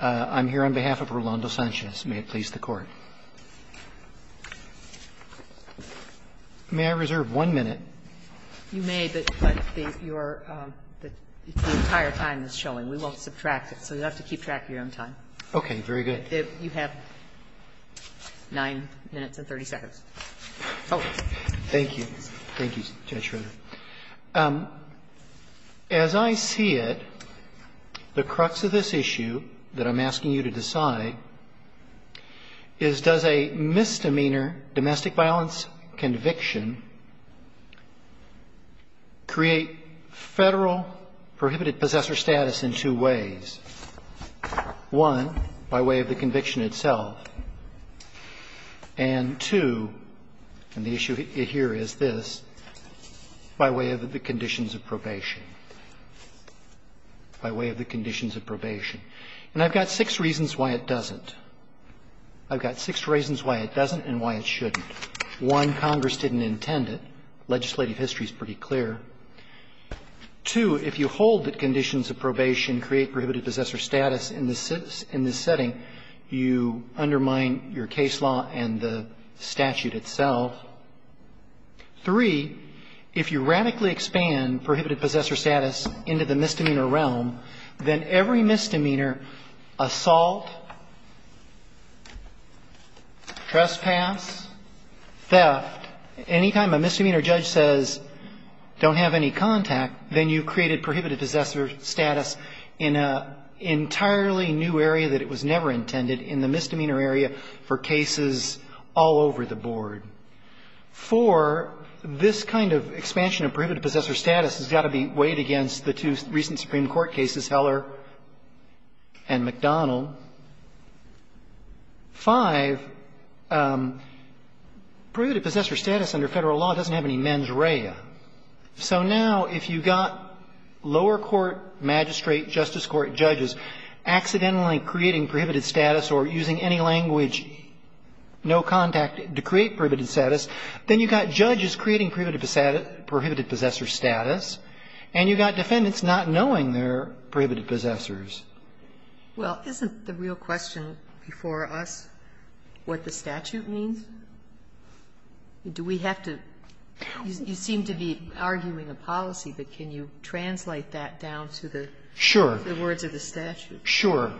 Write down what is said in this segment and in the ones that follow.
I'm here on behalf of Rolando Sanchez. May it please the Court. May I reserve one minute? You may, but your entire time is showing. We won't subtract it, so you'll have to keep track of your own time. Okay. Very good. You have 9 minutes and 30 seconds. Thank you. Thank you, Judge Schroeder. As I see it, the crux of this issue that I'm asking you to decide is does a misdemeanor domestic violence conviction create federal prohibited possessor status in two ways? One, by way of the conviction itself. And two, and the issue here is this, by way of the conditions of probation. By way of the conditions of probation. And I've got six reasons why it doesn't. I've got six reasons why it doesn't and why it shouldn't. One, Congress didn't intend it. Legislative history is pretty clear. Two, if you hold that conditions of probation create prohibited possessor status in this setting, you undermine your case law and the statute itself. Three, if you radically expand prohibited possessor status into the misdemeanor realm, then every misdemeanor assault, trespass, theft, anytime a misdemeanor judge says don't have any contact, then you've created prohibited possessor status in an entirely new area that it was never intended in the misdemeanor area for cases all over the board. Four, this kind of expansion of prohibited possessor status has got to be weighed against the two recent Supreme Court cases, Heller and McDonnell. Five, prohibited possessor status under Federal law doesn't have any mens rea. So now if you've got lower court, magistrate, justice court judges accidentally creating prohibited status or using any language, no contact, to create prohibited status, then you've got judges creating prohibited possessor status, and you've got defendants not knowing they're prohibited possessors. Well, isn't the real question before us what the statute means? Do we have to you seem to be arguing a policy, but can you translate that down to the words of the statute? Sure.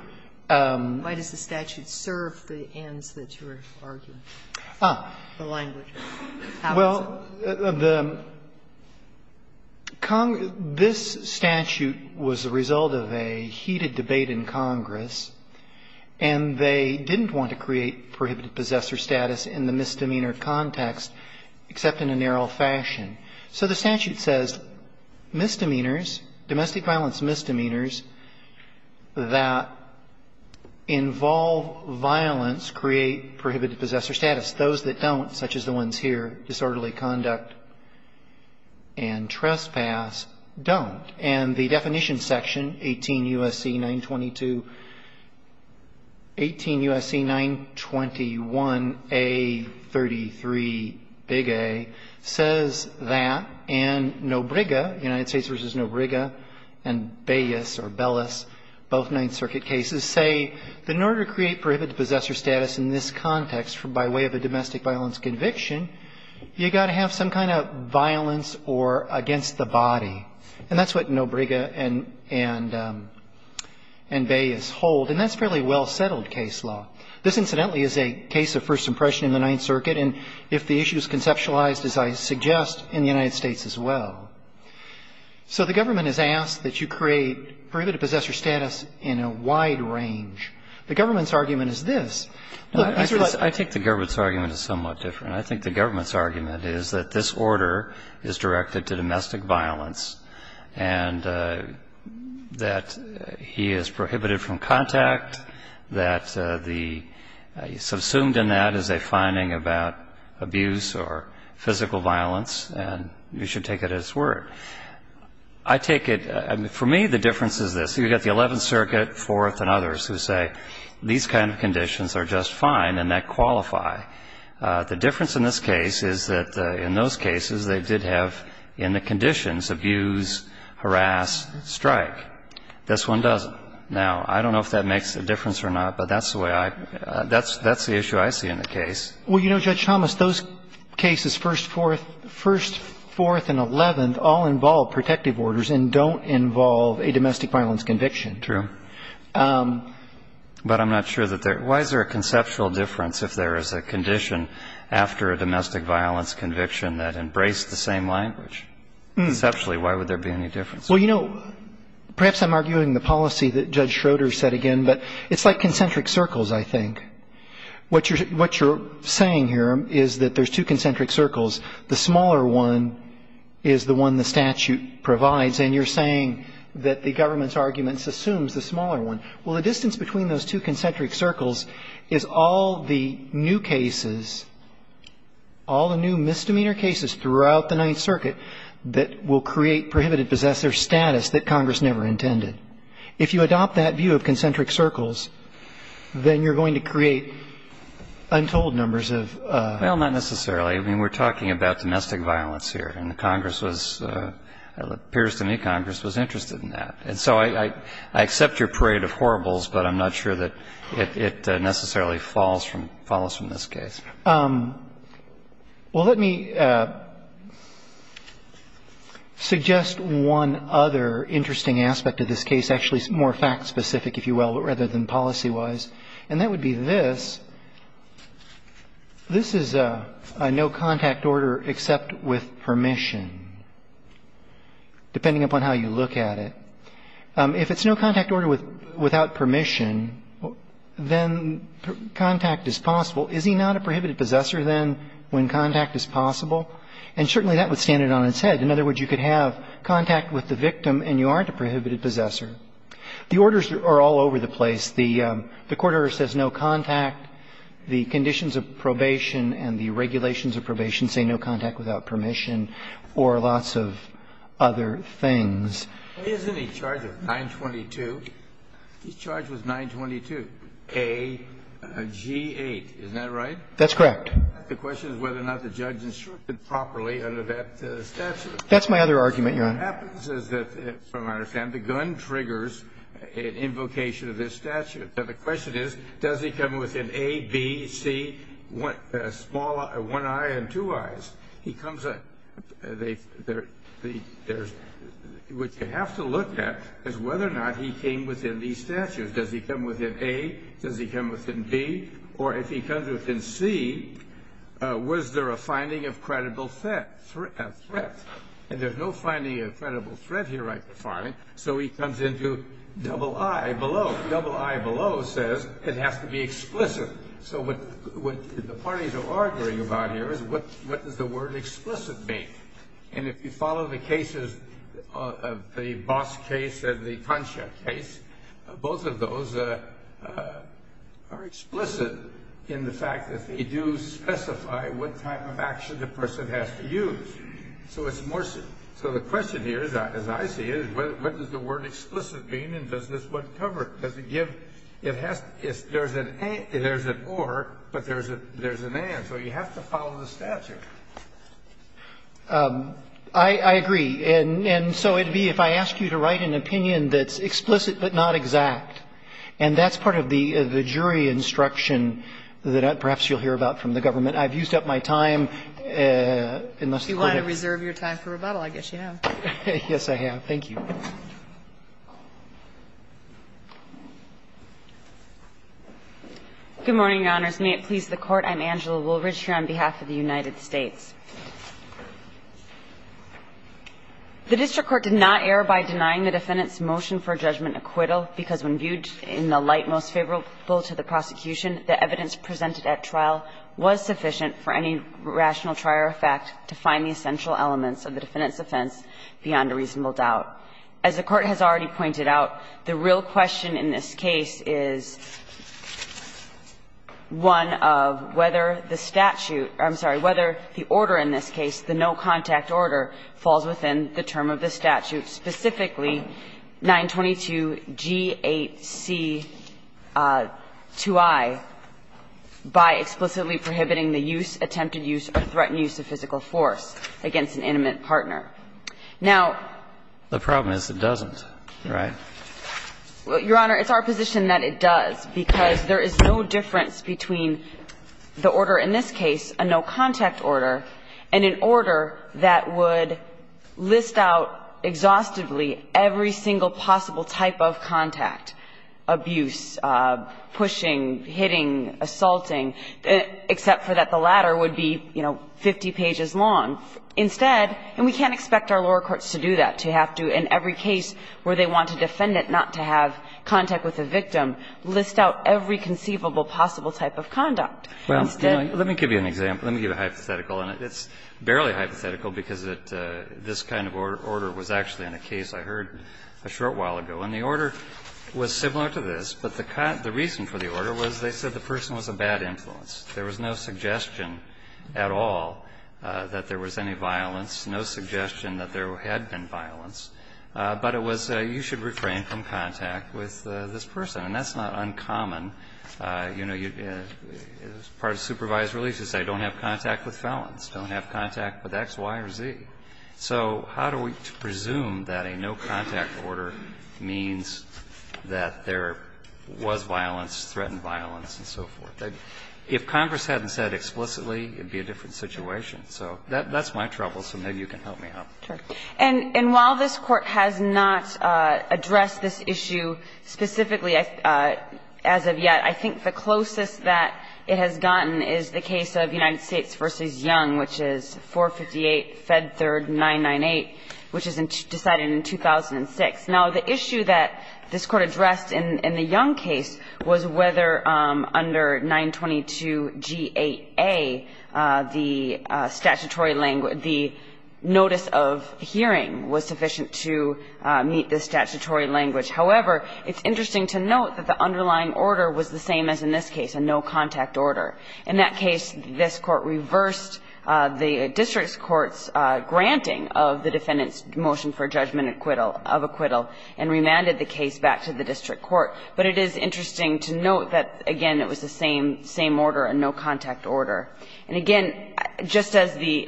Why does the statute serve the ends that you're arguing, the language? Well, the Congress – this statute was the result of a heated debate in Congress, and they didn't want to create prohibited possessor status in the misdemeanor context except in a narrow fashion. So the statute says misdemeanors, domestic violence misdemeanors that involve violence create prohibited possessor status. Those that don't, such as the ones here, disorderly conduct and trespass, don't. And the definition section, 18 U.S.C. 922 – 18 U.S.C. 921a33, big A, says that. And Nobriga, United States v. Nobriga, and Bellis, or Bellis, both Ninth Circuit cases, say that in order to create prohibited possessor status in this context by way of a domestic violence conviction, you've got to have some kind of violence or against the body. And that's what Nobriga and Bellis hold, and that's a fairly well-settled case law. This, incidentally, is a case of first impression in the Ninth Circuit, and if the issue is conceptualized, as I suggest, in the United States as well. So the government has asked that you create prohibited possessor status in a wide range. The government's argument is this. I think the government's argument is somewhat different. I think the government's argument is that this order is directed to domestic violence, and that he is prohibited from contact, that the – subsumed in that is a finding about abuse or physical violence, and you should take it at its word. I take it – for me, the difference is this. You've got the Eleventh Circuit, Fourth, and others who say these kind of conditions are just fine and that qualify. The difference in this case is that in those cases, they did have in the conditions abuse, harass, strike. This one doesn't. Now, I don't know if that makes a difference or not, but that's the way I – that's the issue I see in the case. Well, you know, Judge Thomas, those cases, First, Fourth, and Eleventh, all involve protective orders and don't involve a domestic violence conviction. True. But I'm not sure that there – why is there a conceptual difference if there is a condition after a domestic violence conviction that embraced the same language? Conceptually, why would there be any difference? Well, you know, perhaps I'm arguing the policy that Judge Schroeder said again, but it's like concentric circles, I think. What you're – what you're saying here is that there's two concentric circles. The smaller one is the one the statute provides, and you're saying that the government's Well, the distance between those two concentric circles is all the new cases, all the new misdemeanor cases throughout the Ninth Circuit that will create prohibited possessor status that Congress never intended. If you adopt that view of concentric circles, then you're going to create untold numbers of — Well, not necessarily. I mean, we're talking about domestic violence here, and the Congress was – it appears to me Congress was interested in that. And so I accept your parade of horribles, but I'm not sure that it necessarily falls from – follows from this case. Well, let me suggest one other interesting aspect of this case, actually more fact-specific, if you will, rather than policy-wise, and that would be this. This is a no-contact order except with permission, depending upon how you look at it. If it's no-contact order without permission, then contact is possible. Is he not a prohibited possessor, then, when contact is possible? And certainly that would stand it on its head. In other words, you could have contact with the victim and you aren't a prohibited possessor. The orders are all over the place. The court order says no contact, the conditions of probation and the regulations of probation say no contact without permission, or lots of other things. Isn't he charged with 922? He's charged with 922, A-G-8. Isn't that right? That's correct. The question is whether or not the judge instructed properly under that statute. That's my other argument, Your Honor. What happens is that, from what I understand, the gun triggers an invocation of this statute. Now, the question is, does he come with an A, B, C, one eye and two eyes? He comes with a... What you have to look at is whether or not he came within these statutes. Does he come within A? Does he come within B? Or if he comes within C, was there a finding of credible threat? And there's no finding of credible threat here, I find. So he comes into double eye below. Double eye below says it has to be explicit. So what the parties are arguing about here is, what does the word explicit mean? And if you follow the cases, the Boss case and the Concha case, both of those are explicit in the fact that they do specify what type of action the person has to use. So it's more... So the question here, as I see it, is what does the word explicit mean and does this one cover it? Because it gives, it has, there's an A, there's an or, but there's an and. So you have to follow the statute. I agree. And so it would be, if I ask you to write an opinion that's explicit but not exact, and that's part of the jury instruction that perhaps you'll hear about from the government. I've used up my time. Unless you want to... If you want to reserve your time for rebuttal, I guess you have. Yes, I have. Thank you. Good morning, Your Honors. May it please the Court. I'm Angela Woolridge here on behalf of the United States. The district court did not err by denying the defendant's motion for a judgment acquittal because when viewed in the light most favorable to the prosecution, the evidence presented at trial was sufficient for any rational trial or fact to find the essential elements of the defendant's offense beyond a reasonable doubt. As the Court has already pointed out, the real question in this case is one of whether the statute, I'm sorry, whether the order in this case, the no-contact order, falls within the term of the statute, specifically 922G8C2I, by explicitly prohibiting the use, attempted use, or threatened use of physical force against an intimate partner. Now... The problem is it doesn't, right? Your Honor, it's our position that it does, because there is no difference between the order in this case, a no-contact order, and an order that would list out exhaustively every single possible type of contact, abuse, pushing, hitting, assaulting, except for that the latter would be, you know, 50 pages long. Instead, and we can't expect our lower courts to do that, to have to, in every case where they want a defendant not to have contact with a victim, list out every conceivable possible type of conduct. Instead... Well, let me give you an example. Let me give a hypothetical. And it's barely hypothetical, because this kind of order was actually in a case I heard a short while ago. And the order was similar to this, but the reason for the order was they said the person was a bad influence. There was no suggestion at all that there was any violence, no suggestion that there had been violence. But it was, you should refrain from contact with this person. And that's not uncommon. You know, part of supervised release is they don't have contact with felons, don't have contact with X, Y, or Z. So how do we presume that a no-contact order means that there was violence, threatened violence, and so forth? If Congress hadn't said explicitly, it would be a different situation. So that's my trouble, so maybe you can help me out. Sure. And while this Court has not addressed this issue specifically as of yet, I think the closest that it has gotten is the case of United States v. Young, which is 458 Fed Third 998, which is decided in 2006. Now, the issue that this Court addressed in the Young case was whether under 922 GAA, the statutory language, the notice of hearing was sufficient to meet the statutory language. However, it's interesting to note that the underlying order was the same as in this case, a no-contact order. In that case, this Court reversed the district court's granting of the defendant's motion for judgment acquittal and remanded the case back to the district court. But it is interesting to note that, again, it was the same order, a no-contact order. And again, just as the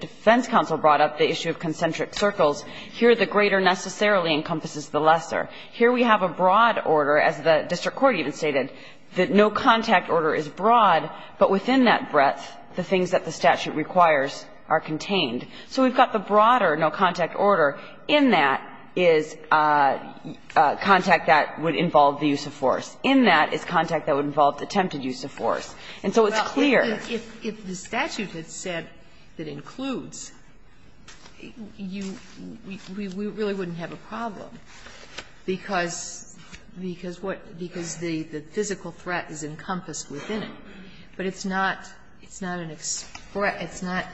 defense counsel brought up the issue of concentric circles, here the greater necessarily encompasses the lesser. Here we have a broad order, as the district court even stated, that no-contact order is broad, but within that breadth, the things that the statute requires are contained. So we've got the broader no-contact order. In that is contact that would involve the use of force. In that is contact that would involve the attempted use of force. And so it's clear. If the statute had said that includes, you we really wouldn't have a problem, because, because what, because the physical threat is encompassed within it. But it's not, it's not an express, it's not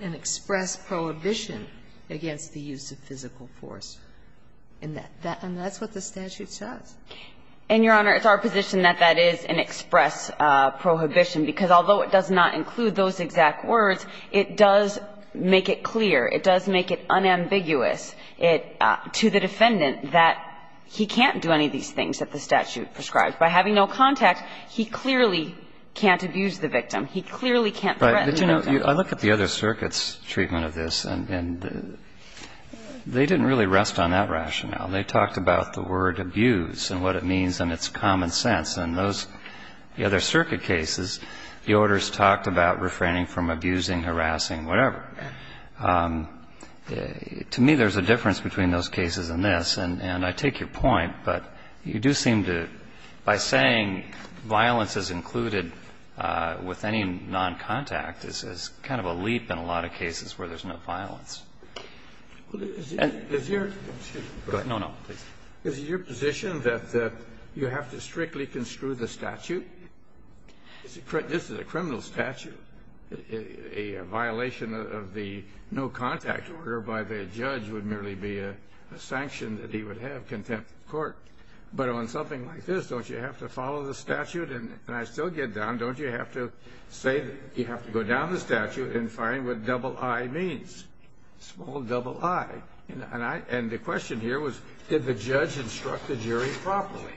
an express prohibition against the use of physical force in that, and that's what the statute says. And, Your Honor, it's our position that that is an express prohibition, because although it does not include those exact words, it does make it clear, it does make it unambiguous to the defendant that he can't do any of these things that the statute prescribes. And that's what the statute says, that he can't do any of these things that the statute And so, by having no contact, by having no contact, he clearly can't abuse the victim. He clearly can't threaten the no-contact. But, you know, I look at the other circuits' treatment of this, and they didn't really rest on that rationale. They talked about the word abuse and what it means and its common sense. And those, the other circuit cases, the orders talked about refraining from abusing, harassing, whatever. To me, there's a difference between those cases and this, and I take your point. But you do seem to, by saying violence is included with any noncontact, is kind of a leap in a lot of cases where there's no violence. And is your go ahead. No, no, please. Kennedy, is it your position that you have to strictly construe the statute? This is a criminal statute. A violation of the no-contact order by the judge would merely be a sanction that he would have contempt of court. But on something like this, don't you have to follow the statute? And I still get down, don't you have to say that you have to go down the statute and find what double I means? Small double I. And the question here was, did the judge instruct the jury properly?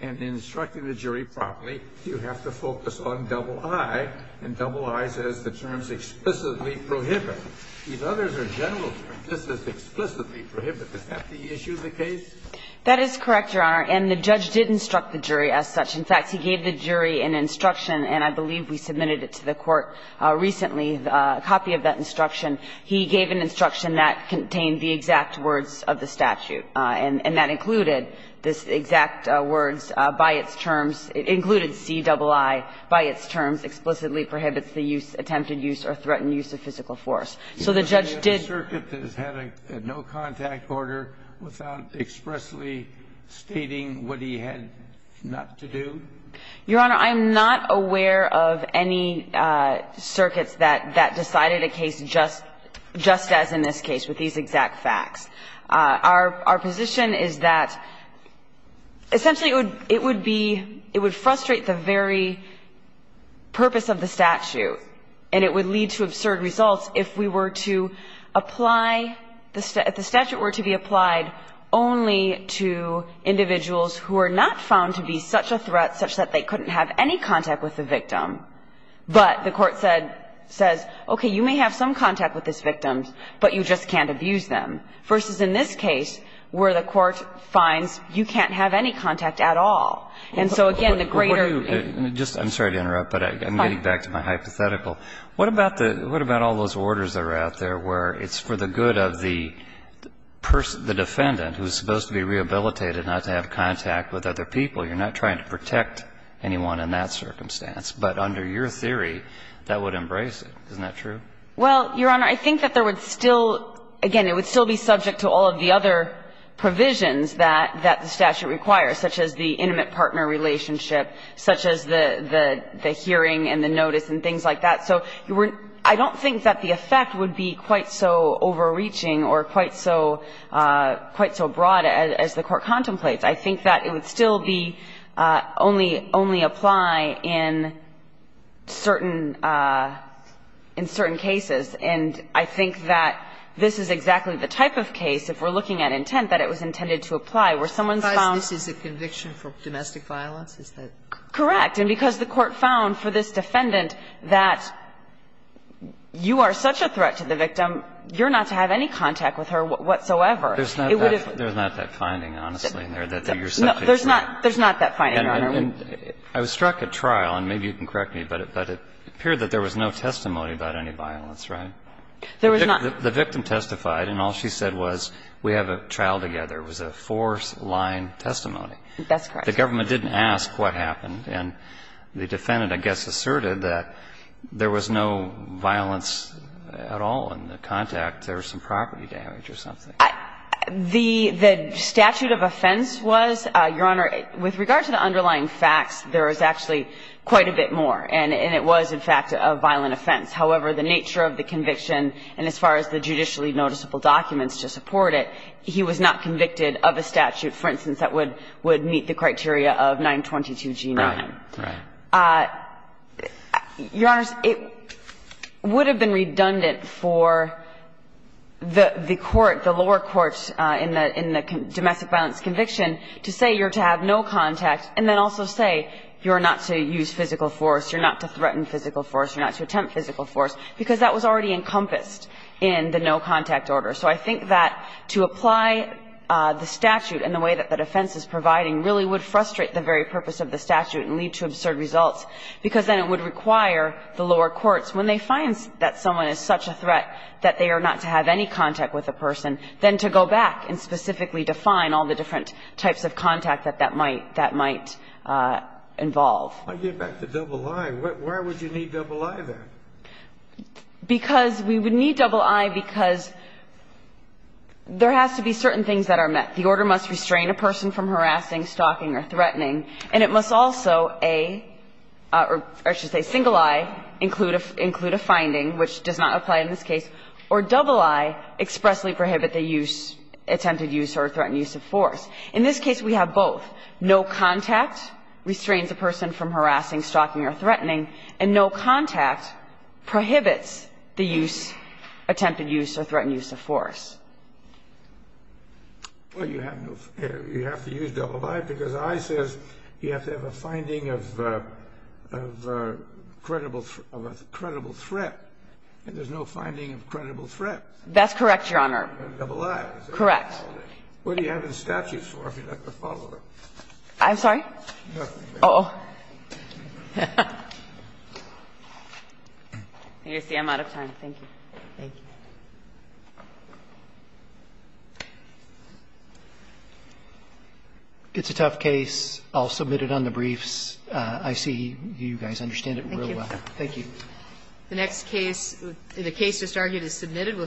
And in instructing the jury properly, you have to focus on double I, and double I says the terms explicitly prohibit. These others are general terms. This is explicitly prohibit. Is that the issue of the case? That is correct, Your Honor. And the judge did instruct the jury as such. In fact, he gave the jury an instruction, and I believe we submitted it to the Court recently, a copy of that instruction. He gave an instruction that contained the exact words of the statute. And that included this exact words by its terms. It included C double I by its terms, explicitly prohibits the use, attempted use, or threatened use of physical force. So the judge did no contact order without expressly stating what he had not to do? Your Honor, I'm not aware of any circuits that decided a case just as in this case with these exact facts. Our position is that essentially it would be – it would frustrate the very purpose of the statute, and it would lead to absurd results if we were to apply – if the statute were to be applied only to individuals who are not found to be such a threat, such that they couldn't have any contact with the victim, but the Court said – says, okay, you may have some contact with this victim, but you just can't abuse them. Versus in this case, where the Court finds you can't have any contact at all. And so again, the greater – What are you – I'm sorry to interrupt, but I'm getting back to my hypothetical. What about the – what about all those orders that are out there where it's for the good of the person, the defendant, who is supposed to be rehabilitated, not to have contact with other people? You're not trying to protect anyone in that circumstance, but under your theory, that would embrace it. Isn't that true? Well, Your Honor, I think that there would still – again, it would still be subject to all of the other provisions that the statute requires, such as the intimate partner relationship, such as the hearing and the notice and things like that. So I don't think that the effect would be quite so overreaching or quite so – quite so broad as the Court contemplates. I think that it would still be only – only apply in certain – in certain cases, and I think that this is exactly the type of case, if we're looking at intent, that it was intended to apply, where someone's found – Because this is a conviction for domestic violence? Is that correct? Correct. And because the Court found for this defendant that you are such a threat to the victim, you're not to have any contact with her whatsoever. There's not that – there's not that finding, honestly, in there. And I was struck at trial, and maybe you can correct me, but it appeared that there was no testimony about any violence, right? There was not. The victim testified, and all she said was, we have a trial together. It was a four-line testimony. That's correct. The government didn't ask what happened, and the defendant, I guess, asserted that there was no violence at all in the contact. There was some property damage or something. The statute of offense was, Your Honor, with regard to the underlying facts, there was actually quite a bit more, and it was, in fact, a violent offense. However, the nature of the conviction, and as far as the judicially noticeable documents to support it, he was not convicted of a statute, for instance, that would meet the criteria of 922G9. Right. Right. And so I think it's important for the lower courts in the domestic violence conviction to say you're to have no contact, and then also say you're not to use physical force, you're not to threaten physical force, you're not to attempt physical force, because that was already encompassed in the no-contact order. So I think that to apply the statute in the way that the defense is providing really would frustrate the very purpose of the statute and lead to absurd results, because then it would require the lower courts, when they find that someone is such a threat, that they are not to have any contact with the person, then to go back and specifically define all the different types of contact that that might involve. I get back to double I. Why would you need double I, then? Because we would need double I because there has to be certain things that are met. The order must restrain a person from harassing, stalking, or threatening. And it must also, a, or I should say single I, include a finding which does not apply in this case, or double I expressly prohibit the use, attempted use, or threatened use of force. In this case, we have both. No contact restrains a person from harassing, stalking, or threatening. And no contact prohibits the use, attempted use, or threatened use of force. Well, you have to use double I because I says you have to have a finding of a credible threat, and there's no finding of a credible threat. That's correct, Your Honor. Double I. Correct. What do you have the statute for if you're not the follower? I'm sorry? Uh-oh. You see, I'm out of time. Thank you. Thank you. It's a tough case. I'll submit it on the briefs. I see you guys understand it real well. Thank you. The next case, the case just argued, is submitted.